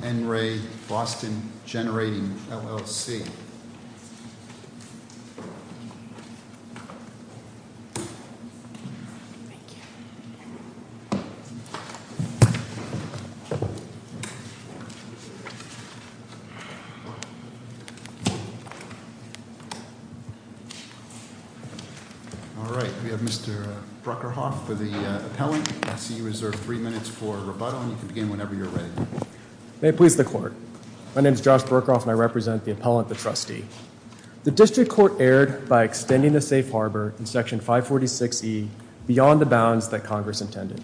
All right, we have Mr. Bruckerhoff for the appellant, I see you reserved three minutes for rebuttal. You can begin whenever you're ready. May it please the court. My name is Josh Bruckerhoff and I represent the appellant, the trustee. The district court erred by extending the safe harbor in section 546E beyond the bounds that Congress intended.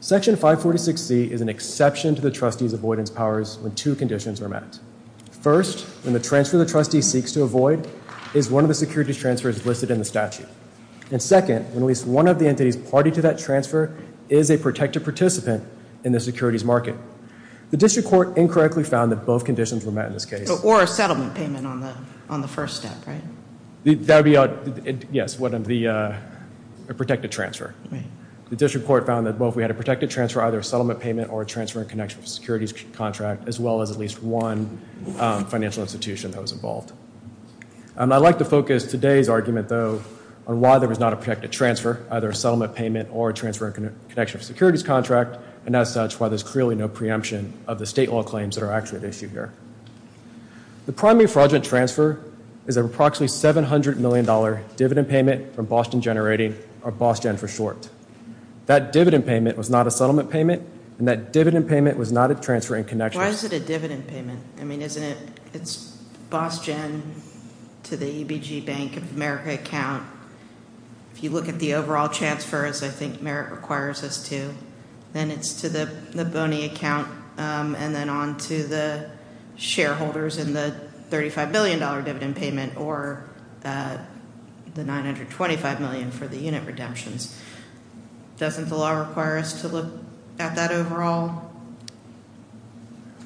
Section 546C is an exception to the trustee's avoidance powers when two conditions are met. First, when the transfer the trustee seeks to avoid is one of the securities transfers listed in the statute. And second, when at least one of the entities party to that transfer is a protected participant in the securities market. The district court incorrectly found that both conditions were met in this case. Or a settlement payment on the first step, right? That would be, yes, a protected transfer. The district court found that both we had a protected transfer, either a settlement payment or a transfer in connection with securities contract, as well as at least one financial institution that was involved. I'd like to focus today's argument though on why there was not a protected transfer, either a settlement payment or a transfer in connection with securities contract, and as such why there's clearly no preemption of the state law claims that are actually at issue here. The primary fraudulent transfer is an approximately 700 million dollar dividend payment from Boston Generating, or BostGen for short. That dividend payment was not a settlement payment and that dividend payment was not a transfer in connection. Why is it a dividend payment? I mean, isn't it, it's to the EBG Bank of America account. If you look at the overall transfers, I think Merrick requires us to. Then it's to the Boney account and then on to the shareholders in the 35 million dollar dividend payment or the 925 million for the unit redemptions. Doesn't the law require us to look at that overall structure?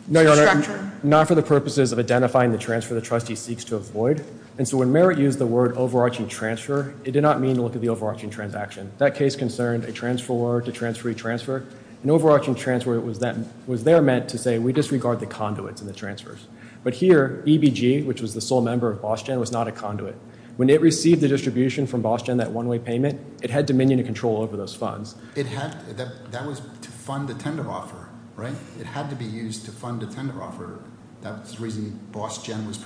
No, Your Honor. Not for the purposes of identifying the transfer the trustee seeks to avoid, and so when Merrick used the word overarching transfer, it did not mean to look at the overarching transaction. That case concerned a transfer to transferee transfer. An overarching transfer was then, was there meant to say we disregard the conduits in the transfers, but here EBG, which was the sole member of BostGen, was not a conduit. When it received the distribution from BostGen, that one-way payment, it had dominion and control over those funds. It had, that was to fund the tender offer, right? It had to be used to fund a tender offer. That was the reason BostGen was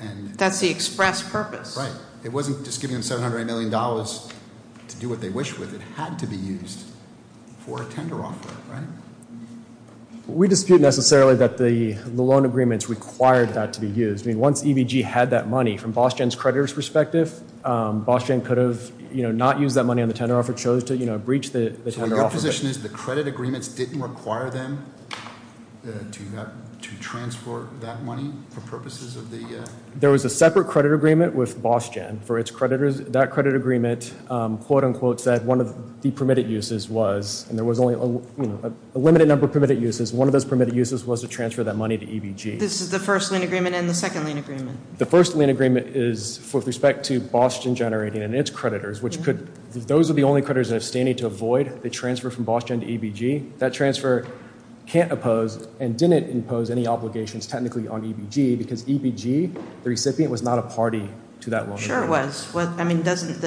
and that's the express purpose, right? It wasn't just giving them 700 million dollars to do what they wish with. It had to be used for a tender offer, right? We dispute necessarily that the loan agreements required that to be used. I mean, once EBG had that money from BostGen's creditors perspective, BostGen could have, you know, not used that money on the tender offer, chose to, you know, breach the tender offer. So your position is the credit agreements didn't require them to transport that money for purposes of the... There was a separate credit agreement with BostGen for its creditors. That credit agreement quote-unquote said one of the permitted uses was, and there was only, you know, a limited number of permitted uses. One of those permitted uses was to transfer that money to EBG. This is the first lien agreement and the second lien agreement? The first lien agreement is with respect to BostGen generating and its creditors, which could, those are the only to avoid the transfer from BostGen to EBG. That transfer can't oppose and didn't impose any obligations technically on EBG because EBG, the recipient, was not a party to that loan agreement. Sure it was. I mean, doesn't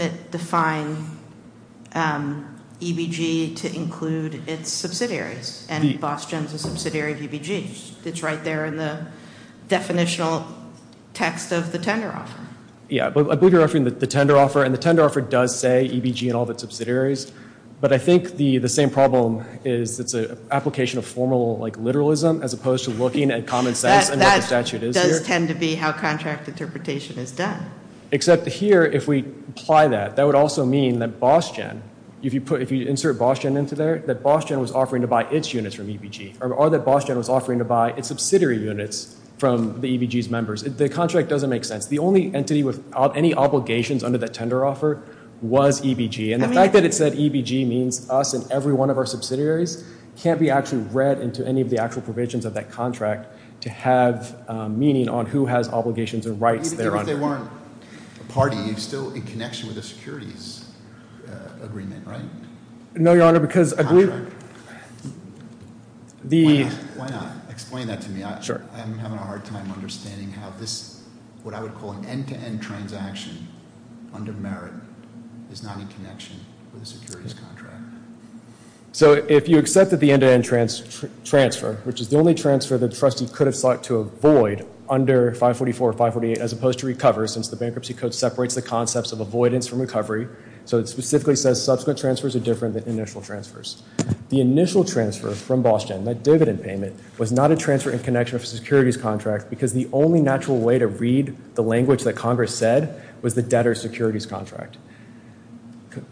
it define EBG to include its subsidiaries and BostGen's a subsidiary of EBG? It's right there in the definitional text of the tender offer. Yeah, I believe you're referring to the tender offer and the tender offer does say EBG and all the subsidiaries, but I think the same problem is it's an application of formal, like, literalism as opposed to looking at common sense and what the statute is here. That does tend to be how contract interpretation is done. Except here, if we apply that, that would also mean that BostGen, if you put, if you insert BostGen into there, that BostGen was offering to buy its units from EBG or that BostGen was offering to buy its subsidiary units from the EBG's members. The contract doesn't make sense. The only entity with any obligations under that tender offer was EBG and the fact that it said EBG means us and every one of our subsidiaries can't be actually read into any of the actual provisions of that contract to have meaning on who has obligations and rights thereon. Even if they weren't a party, you're still in connection with the securities agreement, right? No, Your Honor, because the... Why not? Explain that to me. I'm having a hard time understanding how this, what I would call an end-to-end transaction, under merit, is not in connection with a securities contract. So if you accepted the end-to-end transfer, which is the only transfer the trustee could have sought to avoid under 544 or 548 as opposed to recover, since the bankruptcy code separates the concepts of avoidance from recovery, so it specifically says subsequent transfers are initial transfers. The initial transfer from Boston, that dividend payment, was not a transfer in connection of a securities contract because the only natural way to read the language that Congress said was the debtor securities contract.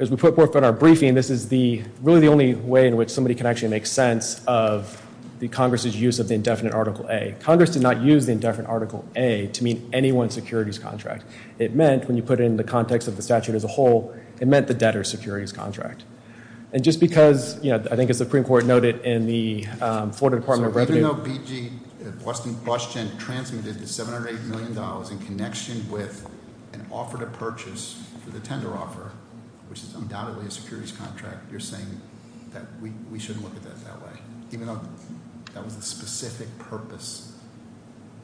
As we put forth in our briefing, this is the, really the only way in which somebody can actually make sense of the Congress's use of the indefinite Article A. Congress did not use the indefinite Article A to mean any one securities contract. It meant, when you put it in the context of the statute as a whole, it meant the debtor securities contract. And just because, you know, I think as the Supreme Court noted in the Florida Department of Revenue... So even though BG, Boston transmitted the $708 million in connection with an offer to purchase for the tender offer, which is undoubtedly a securities contract, you're saying that we shouldn't look at that that way, even though that was the specific purpose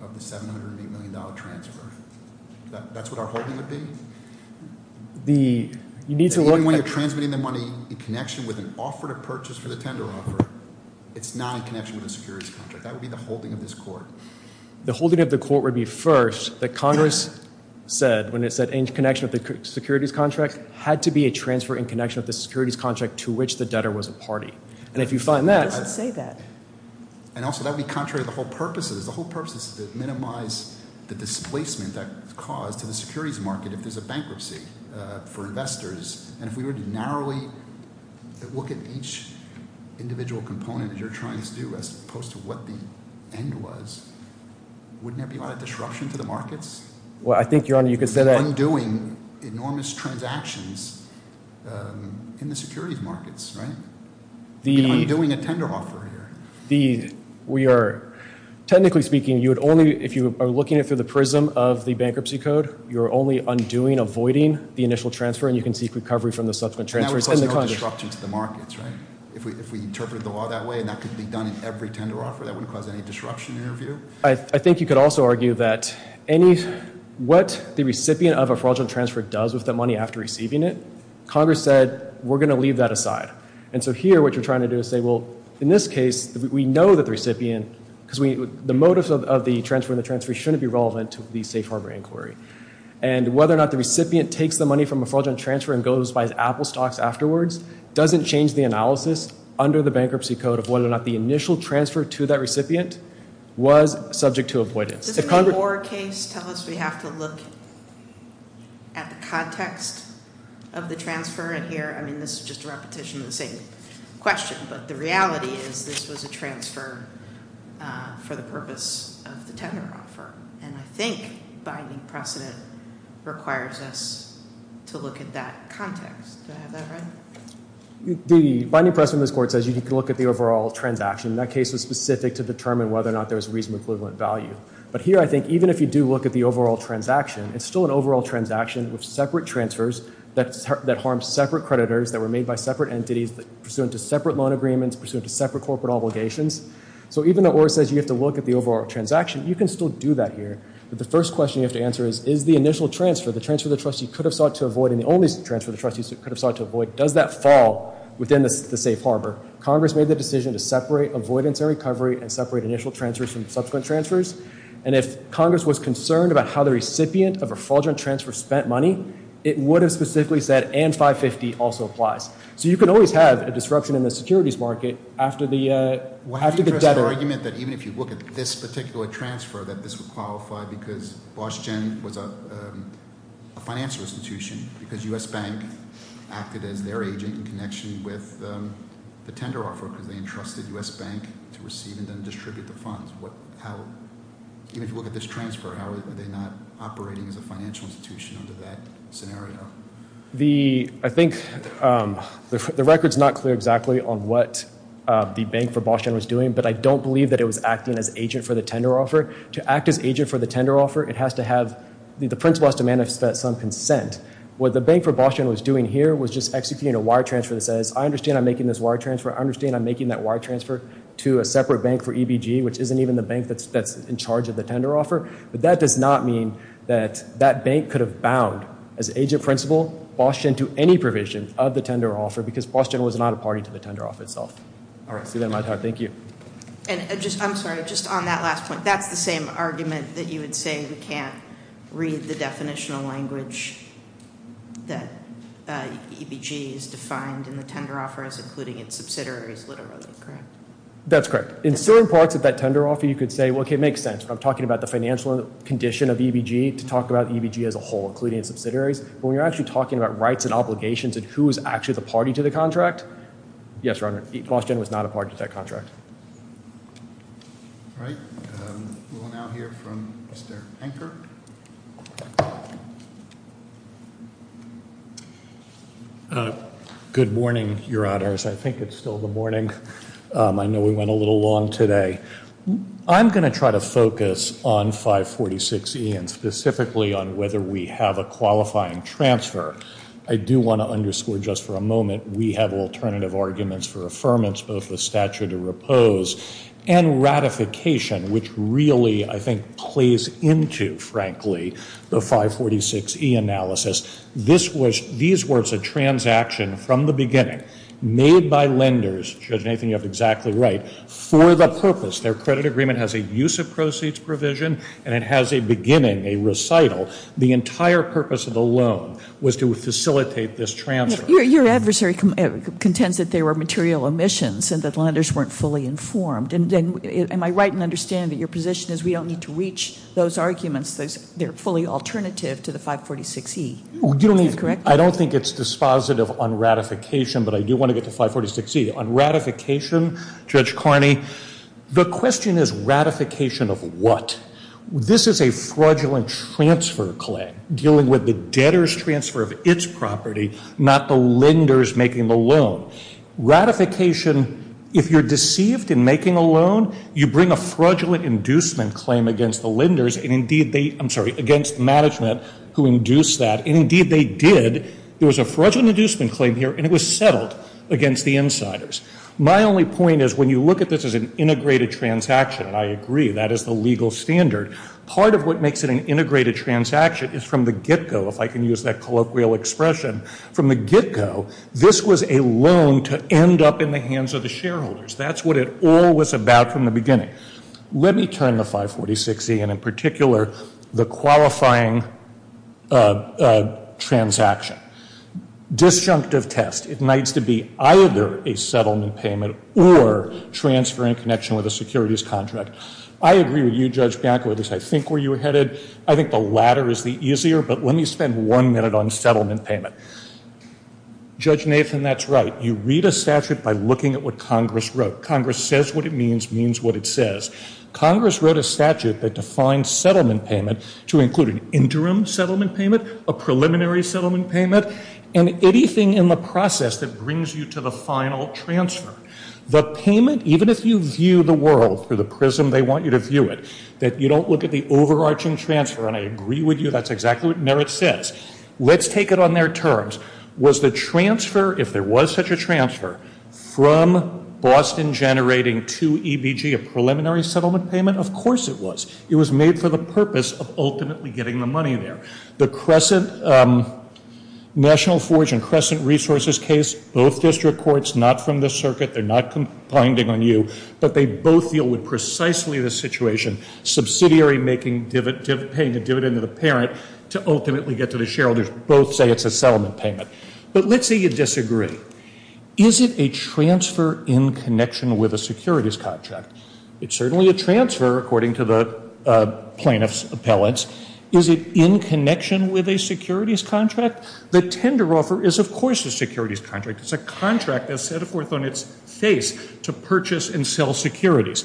of the $708 million transfer. That's what our holding would be? The, you need to look... Even when you're transmitting the money in connection with an offer to purchase for the tender offer, it's not in connection with a securities contract. That would be the holding of this court. The holding of the court would be first that Congress said, when it said in connection with the securities contract, had to be a transfer in connection with the securities contract to which the debtor was a party. And if you find that... It doesn't say that. And also that would be contrary to the whole purposes. The whole purpose is to minimize the displacement that caused to the securities market if there's a bankruptcy for investors. And if we were to narrowly look at each individual component that you're trying to do, as opposed to what the end was, wouldn't there be a lot of disruption to the markets? Well, I think, Your Honor, you could say that... Undoing enormous transactions in the securities markets, right? Undoing a tender offer here. The... We are... Technically speaking, you would only... If you are looking at through the prism of the bankruptcy code, you're only undoing, avoiding the initial transfer, and you can seek recovery from the subsequent transfers. And that would cause no disruption to the markets, right? If we interpreted the law that way, and that could be done in every tender offer, that wouldn't cause any disruption in your view? I think you could also argue that any... What the recipient of a fraudulent transfer does with that money after receiving it, Congress said, we're going to leave that aside. And so here, what you're trying to do is say, well, in this case, we know that the recipient... Because we... The motives of the transfer and the transfer shouldn't be relevant to the safe harbor inquiry. And whether or not the recipient takes the money from a fraudulent transfer and goes and buys Apple stocks afterwards, doesn't change the analysis under the bankruptcy code of whether or not the initial transfer to that recipient was subject to avoidance. Does the Moore case tell us we have to look at the context of the transfer in here? I mean, this is just a repetition of the same question, but the reality is this was a transfer for the purpose of the tender offer. And I think binding precedent requires us to look at that context. Do I have that right? The binding precedent in this court says you can look at the overall transaction. That case was specific to determine whether or not there was reasonable equivalent value. But here, I think, even if you do look at the overall transaction, it's still an overall transaction with separate loan agreements pursuant to separate corporate obligations. So even though it says you have to look at the overall transaction, you can still do that here. But the first question you have to answer is, is the initial transfer, the transfer the trustee could have sought to avoid and the only transfer the trustee could have sought to avoid, does that fall within the safe harbor? Congress made the decision to separate avoidance and recovery and separate initial transfers from subsequent transfers. And if Congress was concerned about how the recipient of a fraudulent transfer spent money, it would have specifically said, and 550 also applies. So you can always have a securities market after the debtor. What if you address the argument that even if you look at this particular transfer, that this would qualify because Bosch Gen was a financial institution because U.S. Bank acted as their agent in connection with the tender offer because they entrusted U.S. Bank to receive and then distribute the funds. What, how, even if you look at this transfer, how are they not operating as a financial institution under that scenario? The, I think the record's not clear exactly on what the bank for Bosch Gen was doing, but I don't believe that it was acting as agent for the tender offer. To act as agent for the tender offer, it has to have, the principal has to manifest some consent. What the bank for Bosch Gen was doing here was just executing a wire transfer that says, I understand I'm making this wire transfer, I understand I'm making that wire transfer to a separate bank for EBG, which isn't even the bank that's in charge of the tender offer. But that does not mean that that bank could have bound as agent principal Bosch Gen to any provision of the tender offer because Bosch Gen was not a party to the tender offer itself. All right, see that in my time, thank you. And just, I'm sorry, just on that last point, that's the same argument that you would say we can't read the definitional language that EBG is defined in the tender offer as including its subsidiaries literally, correct? That's correct. In certain parts of that tender offer, you could say, okay, it makes sense. I'm talking about the financial condition of EBG to talk about EBG as a whole, including its subsidiaries. But when you're actually talking about rights and obligations and who is actually the party to the contract, yes, Your Honor, Bosch Gen was not a party to that contract. All right, we will now hear from Mr. Anker. Good morning, Your Honors. I think it's still the morning. I know we went a little long today. I'm going to try to focus on 546E and specifically on whether we have a qualifying transfer. I do want to underscore just for a moment, we have alternative arguments for affirmance, both with statute of repose and ratification, which really, I think, plays into, frankly, the 546E analysis. These were a transaction from the beginning made by lenders, Judge Nathan, you're exactly right, for the purpose. Their credit agreement has a use of proceeds provision and it has a beginning, a recital. The entire purpose of the loan was to facilitate this transfer. Your adversary contends that there were material omissions and that lenders weren't fully informed. Am I right in understanding that your position is we don't need to reach those arguments? They're fully alternative to the 546E. I don't think it's dispositive on ratification, but I do want to get to 546E. On ratification, Judge Carney, the question is ratification of what? This is a fraudulent transfer claim dealing with the debtor's transfer of its property, not the lender's making the loan. Ratification, if you're deceived in making a loan, you bring a fraudulent inducement claim against the lenders and indeed they, I'm sorry, against management who induced that and indeed they did. There was a fraudulent inducement claim here and it was settled against the insiders. My only point is when you look at this as an integrated transaction and I agree that is the legal standard, part of what makes it an integrated transaction is from the get-go, if I can use that colloquial expression, from the get-go, this was a loan to end up in the hands of the shareholders. That's what it all was about from the beginning. Let me turn the 546E and in particular the qualifying transaction. Disjunctive test ignites to be either a settlement payment or transfer in connection with a securities contract. I agree with you, Judge Bianco, at least I think where you're headed. I think the latter is the easier, but let me spend one minute on settlement payment. Judge Nathan, that's right. You read a statute by looking at what Congress wrote. Congress says what it means, means what it says. Congress wrote a statute that defines settlement payment to include an interim settlement payment, a preliminary settlement payment, and anything in the process that brings you to the final transfer. The payment, even if you view the world through the prism they want you to view it, that you don't look at the overarching transfer, and I agree with you that's exactly what Merit says. Let's take it on their terms. Was the transfer, if there was such a transfer, from Boston generating to EBG a preliminary settlement payment? Of course it was. It was made for the purpose of ultimately getting the money there. The Crescent National Forge and Crescent Resources case, both district courts, not from the circuit, they're not complaining on you, but they both deal with precisely the situation, subsidiary making dividend, paying a dividend to the parent to ultimately get to the shareholders, both say it's a settlement payment. But let's say you disagree. Is it a transfer in connection with a securities contract? It's certainly a transfer according to the plaintiff's appellants. Is it in connection with a securities contract? The tender offer is of course a securities contract. It's a contract that's set forth on its face to purchase and sell securities.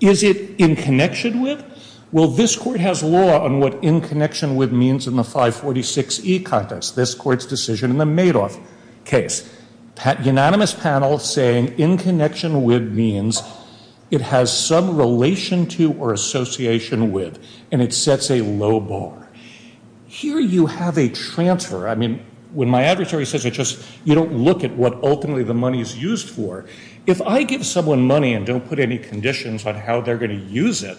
Is it in connection with? Well, this court has law on what in connection with means in the 546E context, this court's decision in the Madoff case. Unanimous panel saying in connection with means it has some relation to or association with, and it sets a low bar. Here you have a transfer. I mean, when my adversary says it, just you don't look at what ultimately the money is used for. If I give someone money and don't put any conditions on how they're going to use it,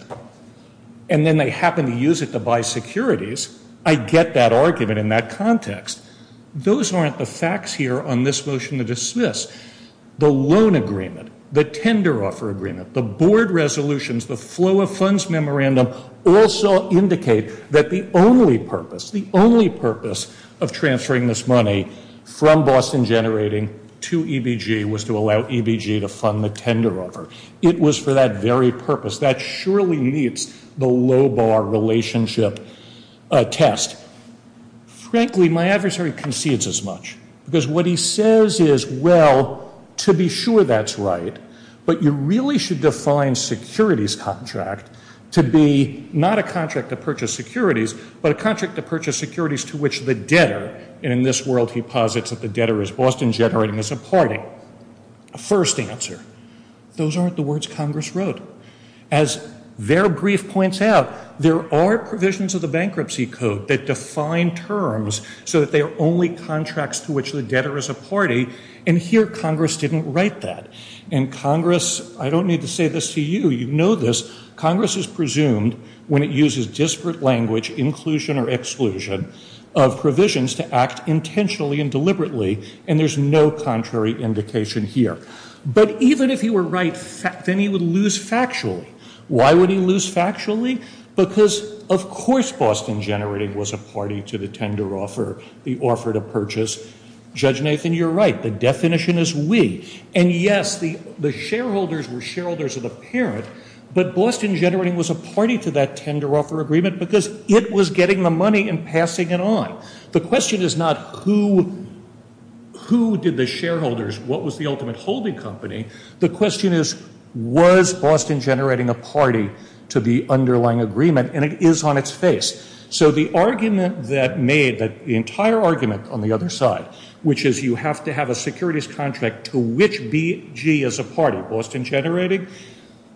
and then they happen to use it to buy securities, I get that argument in that context. Those aren't the facts here on this motion to dismiss. The loan agreement, the tender offer agreement, the board resolutions, the flow of funds memorandum also indicate that the only purpose, the only purpose of transferring this money from Boston Generating to EBG was to allow EBG to fund the tender offer. It was for that very purpose. That surely meets the low bar relationship test. Frankly, my adversary concedes as much, because what he says is, well, to be sure that's right, but you really should define securities contract to be not a contract to purchase securities, but a contract to purchase securities to which the debtor, and in this world he posits that the debtor is Boston Generating as a party. First answer, those aren't the words Congress wrote. As their brief points out, there are provisions of the Bankruptcy Code that define terms so that they are only contracts to which the debtor is a party, and here Congress didn't write that. And Congress, I don't need to say this to you, you know this, Congress is presumed when it uses disparate language, inclusion or exclusion, of provisions to act intentionally and deliberately, and there's no contrary indication here. But even if he were right, then he would lose factually. Why would he lose factually? Because of course Boston Generating was a party to the tender offer, the offer to purchase. Judge Nathan, you're right, the definition is we. And yes, the shareholders were shareholders of the parent, but Boston Generating was a party to that tender offer agreement because it was getting the money and passing it on. The question is not who did the shareholders, what was the ultimate holding company? The question is, was Boston Generating a party to the underlying agreement? And it is on its face. So the argument that made, the entire argument on the other side, which is you have to have a securities contract to which BG is a party, Boston Generating,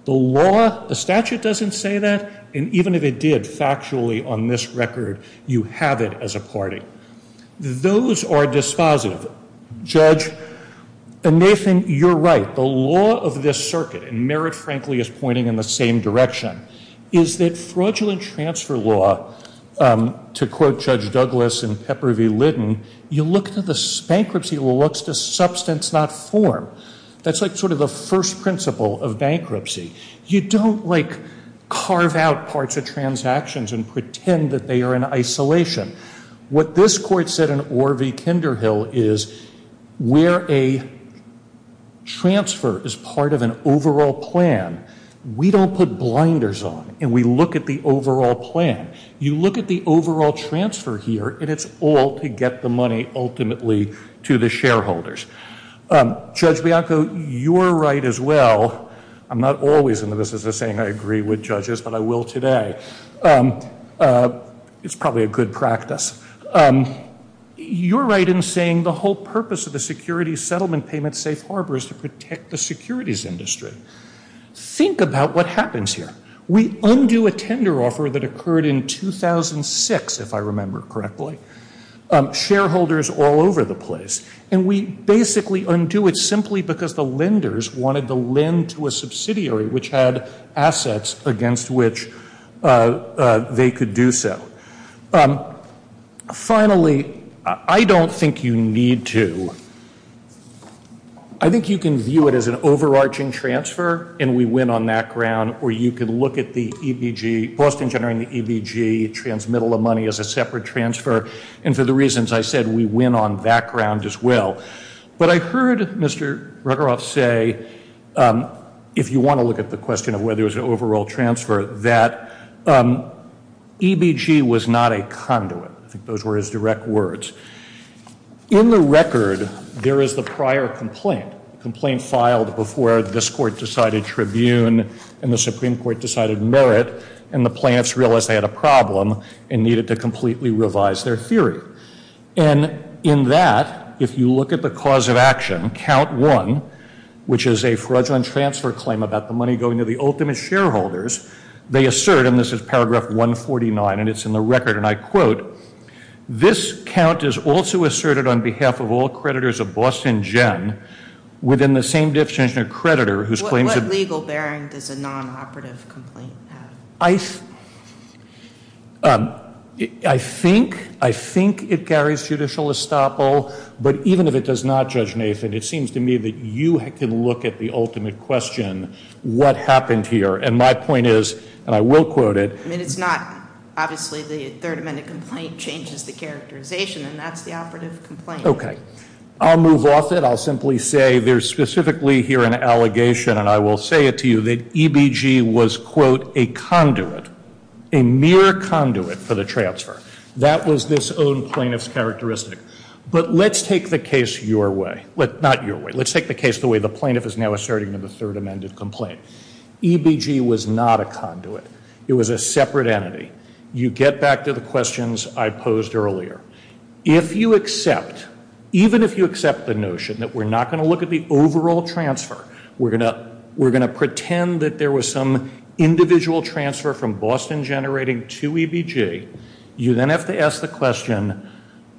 the law, the statute doesn't say that, and even if it did factually on this record, you have it as a party. Those are dispositive. Judge Nathan, you're right, the law of this circuit, and Merritt frankly is pointing in the same direction, is that fraudulent transfer law, to quote Judge Douglas in Pepper v. Litton, you look to the bankruptcy law, to substance not form. That's sort of the first principle of bankruptcy. You don't carve out parts of transactions and pretend that they are in isolation. What this court said in Orr v. Kinderhill is where a transfer is part of an overall plan, we don't put blinders on and we look at the overall plan. You look at the overall transfer here and it's all to get the money ultimately to the shareholders. Judge Bianco, you're right as well, I'm not always into this as a saying, I agree with judges, but I will today. It's probably a good practice. You're right in saying the whole purpose of the security settlement payment safe harbor is to protect the securities industry. Think about what happens here. We undo a tender offer that occurred in 2006, if I remember correctly, shareholders all over the place and we basically undo it simply because the lenders wanted to lend to a subsidiary which had assets against which they could do so. Finally, I don't think you need to, I think you can view it as an overarching transfer and we win on that ground, or you can look at the EBG, Boston generating the EBG, transmittal of money as a separate transfer and for the reasons I said, we win on that ground as well. But I heard Mr. Ruggeroff say, if you want to look at the question of whether it was an overall transfer, that EBG was not a conduit. I think those were his direct words. In the record, there is the prior complaint, complaint filed before this court decided tribune and the Supreme Court decided merit and the plaintiffs realized they had a problem and needed to completely revise their theory. And in that, if you look at the cause of action, count one, which is a fraudulent transfer claim about the money going to the ultimate shareholders, they assert and this is paragraph 149 and it's in the record and I quote, this count is also asserted on behalf of all creditors of Boston Gen within the same distinction of creditor. What legal bearing does a non-operative complaint have? I think it carries judicial estoppel, but even if it does not, Judge Nathan, it seems to me that you can look at the ultimate question, what happened here? And my point is, and I will quote it. I mean, it's not, obviously the Third Amendment complaint changes the characterization and that's the operative complaint. Okay, I'll move off it. I'll simply say there's specifically here an allegation and I will say it to you that EBG was quote, a conduit, a mere conduit for the transfer. That was this own plaintiff's characteristic. But let's take the case your way, but not your way. Let's take the case the way the plaintiff is now asserting in the Third Amendment complaint. EBG was not a conduit. It was a separate entity. You get back to the questions I posed earlier. If you accept, even if you accept the notion that we're not going to look at the overall transfer, we're going to pretend that there was some individual transfer from Boston Generating to EBG. You then have to ask the question,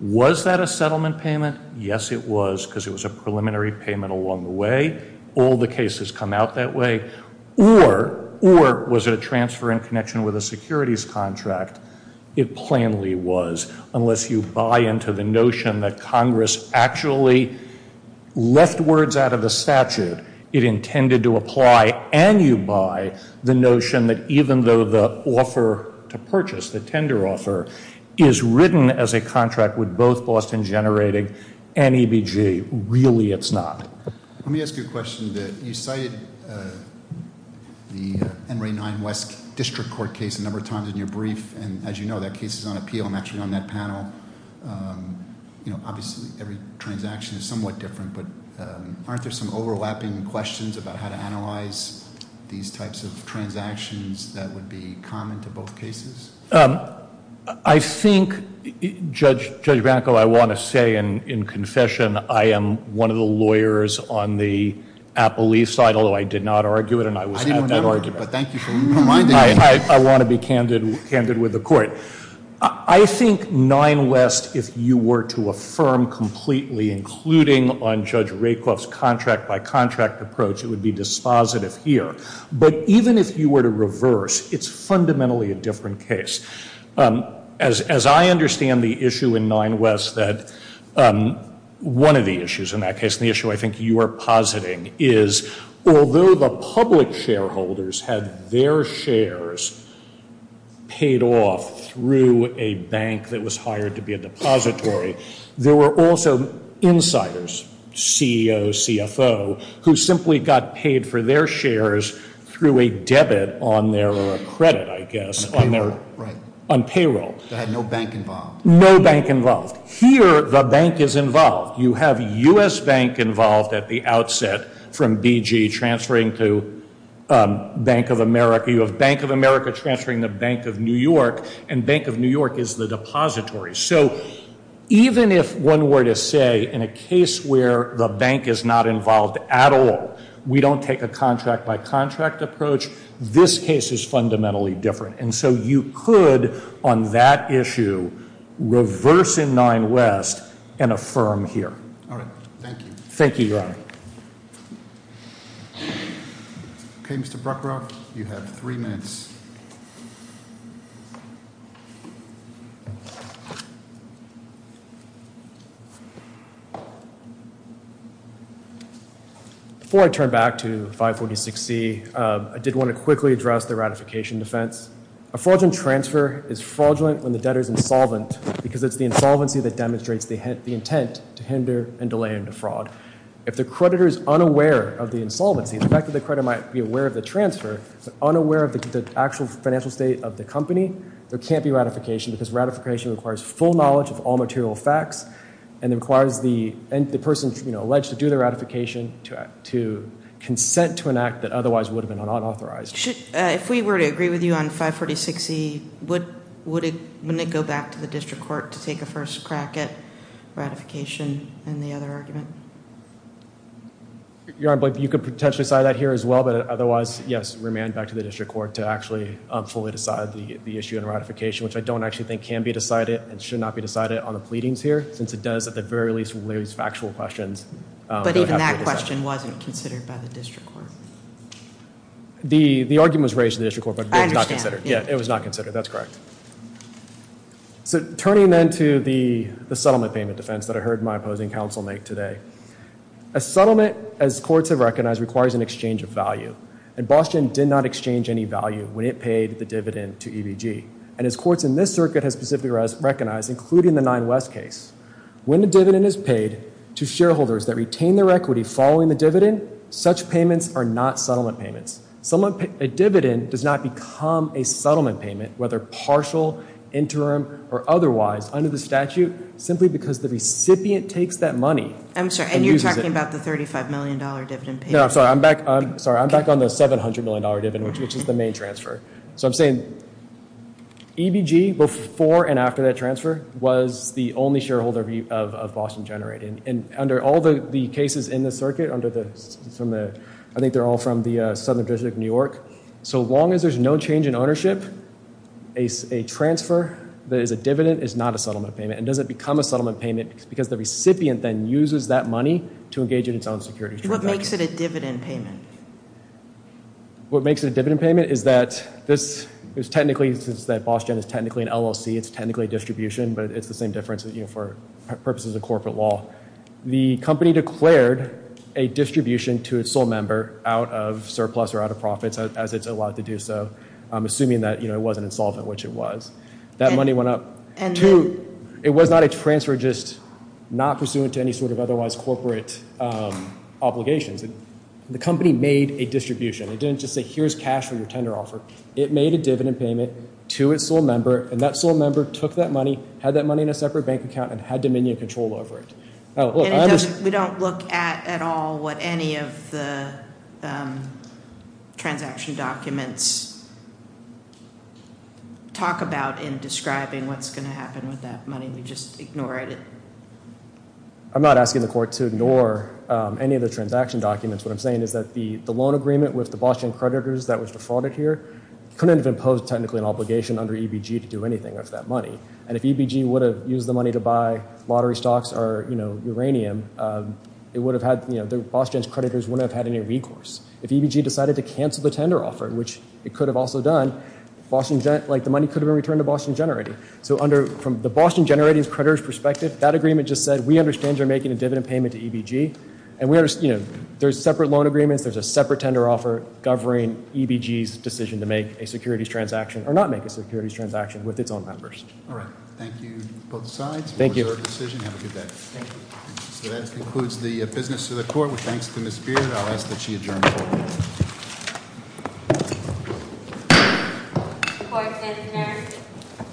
was that a settlement payment? Yes, it was because it was a preliminary payment along the way. All the cases come out that way. Or was it a transfer in connection with a securities contract? It plainly was, unless you buy into the notion that Congress actually left words out of the statute. It intended to apply and you buy the notion that even though the offer to purchase, the tender offer, is written as a contract with both Boston Generating and EBG. Really, it's not. Let me ask you a question. You cited the NRA 9 West District Court case a number of times in your brief, and as you know, that case is on appeal. I'm actually on that panel. Obviously, every transaction is somewhat different, but aren't there some overlapping questions about how to analyze these types of transactions that would be common to both cases? I think, Judge Branko, I want to say in confession, I am one of the lawyers on the Apple leaf side, although I did not argue it. I didn't want to argue it, but thank you for reminding me. I want to be candid with the Court. I think 9 West, if you were to affirm completely, including on Judge Rakoff's contract by contract approach, it would be dispositive here. But even if you were to reverse, it's fundamentally a different case. As I understand the issue in 9 West, that one of the issues in that case, and the issue I think you are positing, is although the public shareholders had their shares paid off through a bank that was hired to be a depository, there were also insiders, CEO, CFO, who simply got paid for their shares through a debit on their credit, I guess, on payroll. They had no bank involved. No bank involved. Here, the bank is involved. You have U.S. Bank involved at the outset from BG transferring to Bank of America. You have Bank of America transferring to Bank of New York, and Bank of New York is the depository. So even if one were to say, in a case where the bank is not involved at all, we don't take a contract by contract approach, this case is fundamentally different. And so you could, on that issue, reverse in 9 West and affirm here. All right. Thank you. Thank you, Your Honor. Okay, Mr. Bruckrock, you have three minutes. Before I turn back to 546C, I did want to quickly address the ratification defense. A fraudulent transfer is fraudulent when the debtor is insolvent because it's the insolvency that demonstrates the intent to hinder and delay into fraud. If the creditor is unaware of the insolvency, the fact that the creditor might be aware of the transfer, but unaware of the actual financial state of the company, there can't be ratification because ratification requires full knowledge of all material facts, and it requires the person, you know, alleged to do the ratification to consent to an act that otherwise would have been unauthorized. If we were to agree with you on 546C, wouldn't it go back to the district court to take a first crack at ratification and the other argument? Your Honor, you could potentially cite that here as well, but otherwise, yes, it would remain back to the district court to actually fully decide the issue and ratification, which I don't actually think can be decided and should not be decided on the pleadings here, since it does at the very least raise factual questions. But even that question wasn't considered by the district court? The argument was raised to the district court, but it was not considered. I understand. Yeah, it was not considered. That's correct. So turning then to the settlement payment defense that I heard my opposing counsel make today, a settlement, as courts have recognized, requires an exchange of value. And Boston did not exchange any value when it paid the dividend to EBG. And as courts in this circuit have specifically recognized, including the 9 West case, when a dividend is paid to shareholders that retain their equity following the dividend, such payments are not settlement payments. A dividend does not become a settlement payment, whether partial, interim, or otherwise, under the statute, simply because the recipient takes that money. I'm sorry, and you're talking about the $35 million dividend payment? No, I'm sorry. I'm back on the $700 million dividend, which is the main transfer. So I'm saying EBG, before and after that transfer, was the only shareholder of Boston Generated. And under all the cases in the circuit, under the, I think they're all from the Southern District of New York, so long as there's no change in ownership, a transfer that is a dividend is not a settlement payment. It doesn't become a settlement payment because the recipient then uses that money to engage in its own security transactions. What makes it a dividend payment? What makes it a dividend payment is that this is technically, since that Boston is technically an LLC, it's technically a distribution, but it's the same difference for purposes of corporate law. The company declared a distribution to its sole member out of surplus or out of profits, as it's allowed to do so, assuming that it wasn't insolvent, which it was. That money went up. Two, it was not a transfer just not pursuant to any sort of otherwise corporate obligations. The company made a distribution. It didn't just say, here's cash from your tender offer. It made a dividend payment to its sole member, and that sole member took that money, had that money in a separate bank account, and had dominion control over it. We don't look at at all what any of the transaction documents talk about in describing what's going to happen with that money. We just ignore it. I'm not asking the court to ignore any of the transaction documents. What I'm saying is that the loan agreement with the Boston creditors that was defrauded here couldn't have imposed technically an obligation under EBG to do anything with that money, and if EBG would have used the money to buy lottery stocks or, you know, uranium, it would have had, you know, Boston's creditors wouldn't have had any recourse. If EBG decided to cancel the tender offer, which it could have also done, like, the money could have been returned to Boston Generating. So from the Boston Generating's creditors' perspective, that agreement just said, we understand you're making a dividend payment to EBG, and, you know, there's separate loan agreements, there's a separate tender offer governing EBG's decision to make a securities transaction, or not make a securities transaction, with its own members. All right. Thank you, both sides, for your decision. Have a good day. Thank you. So that concludes the business to the court. Thanks to Ms. Beard. I'll ask that she adjourn the court.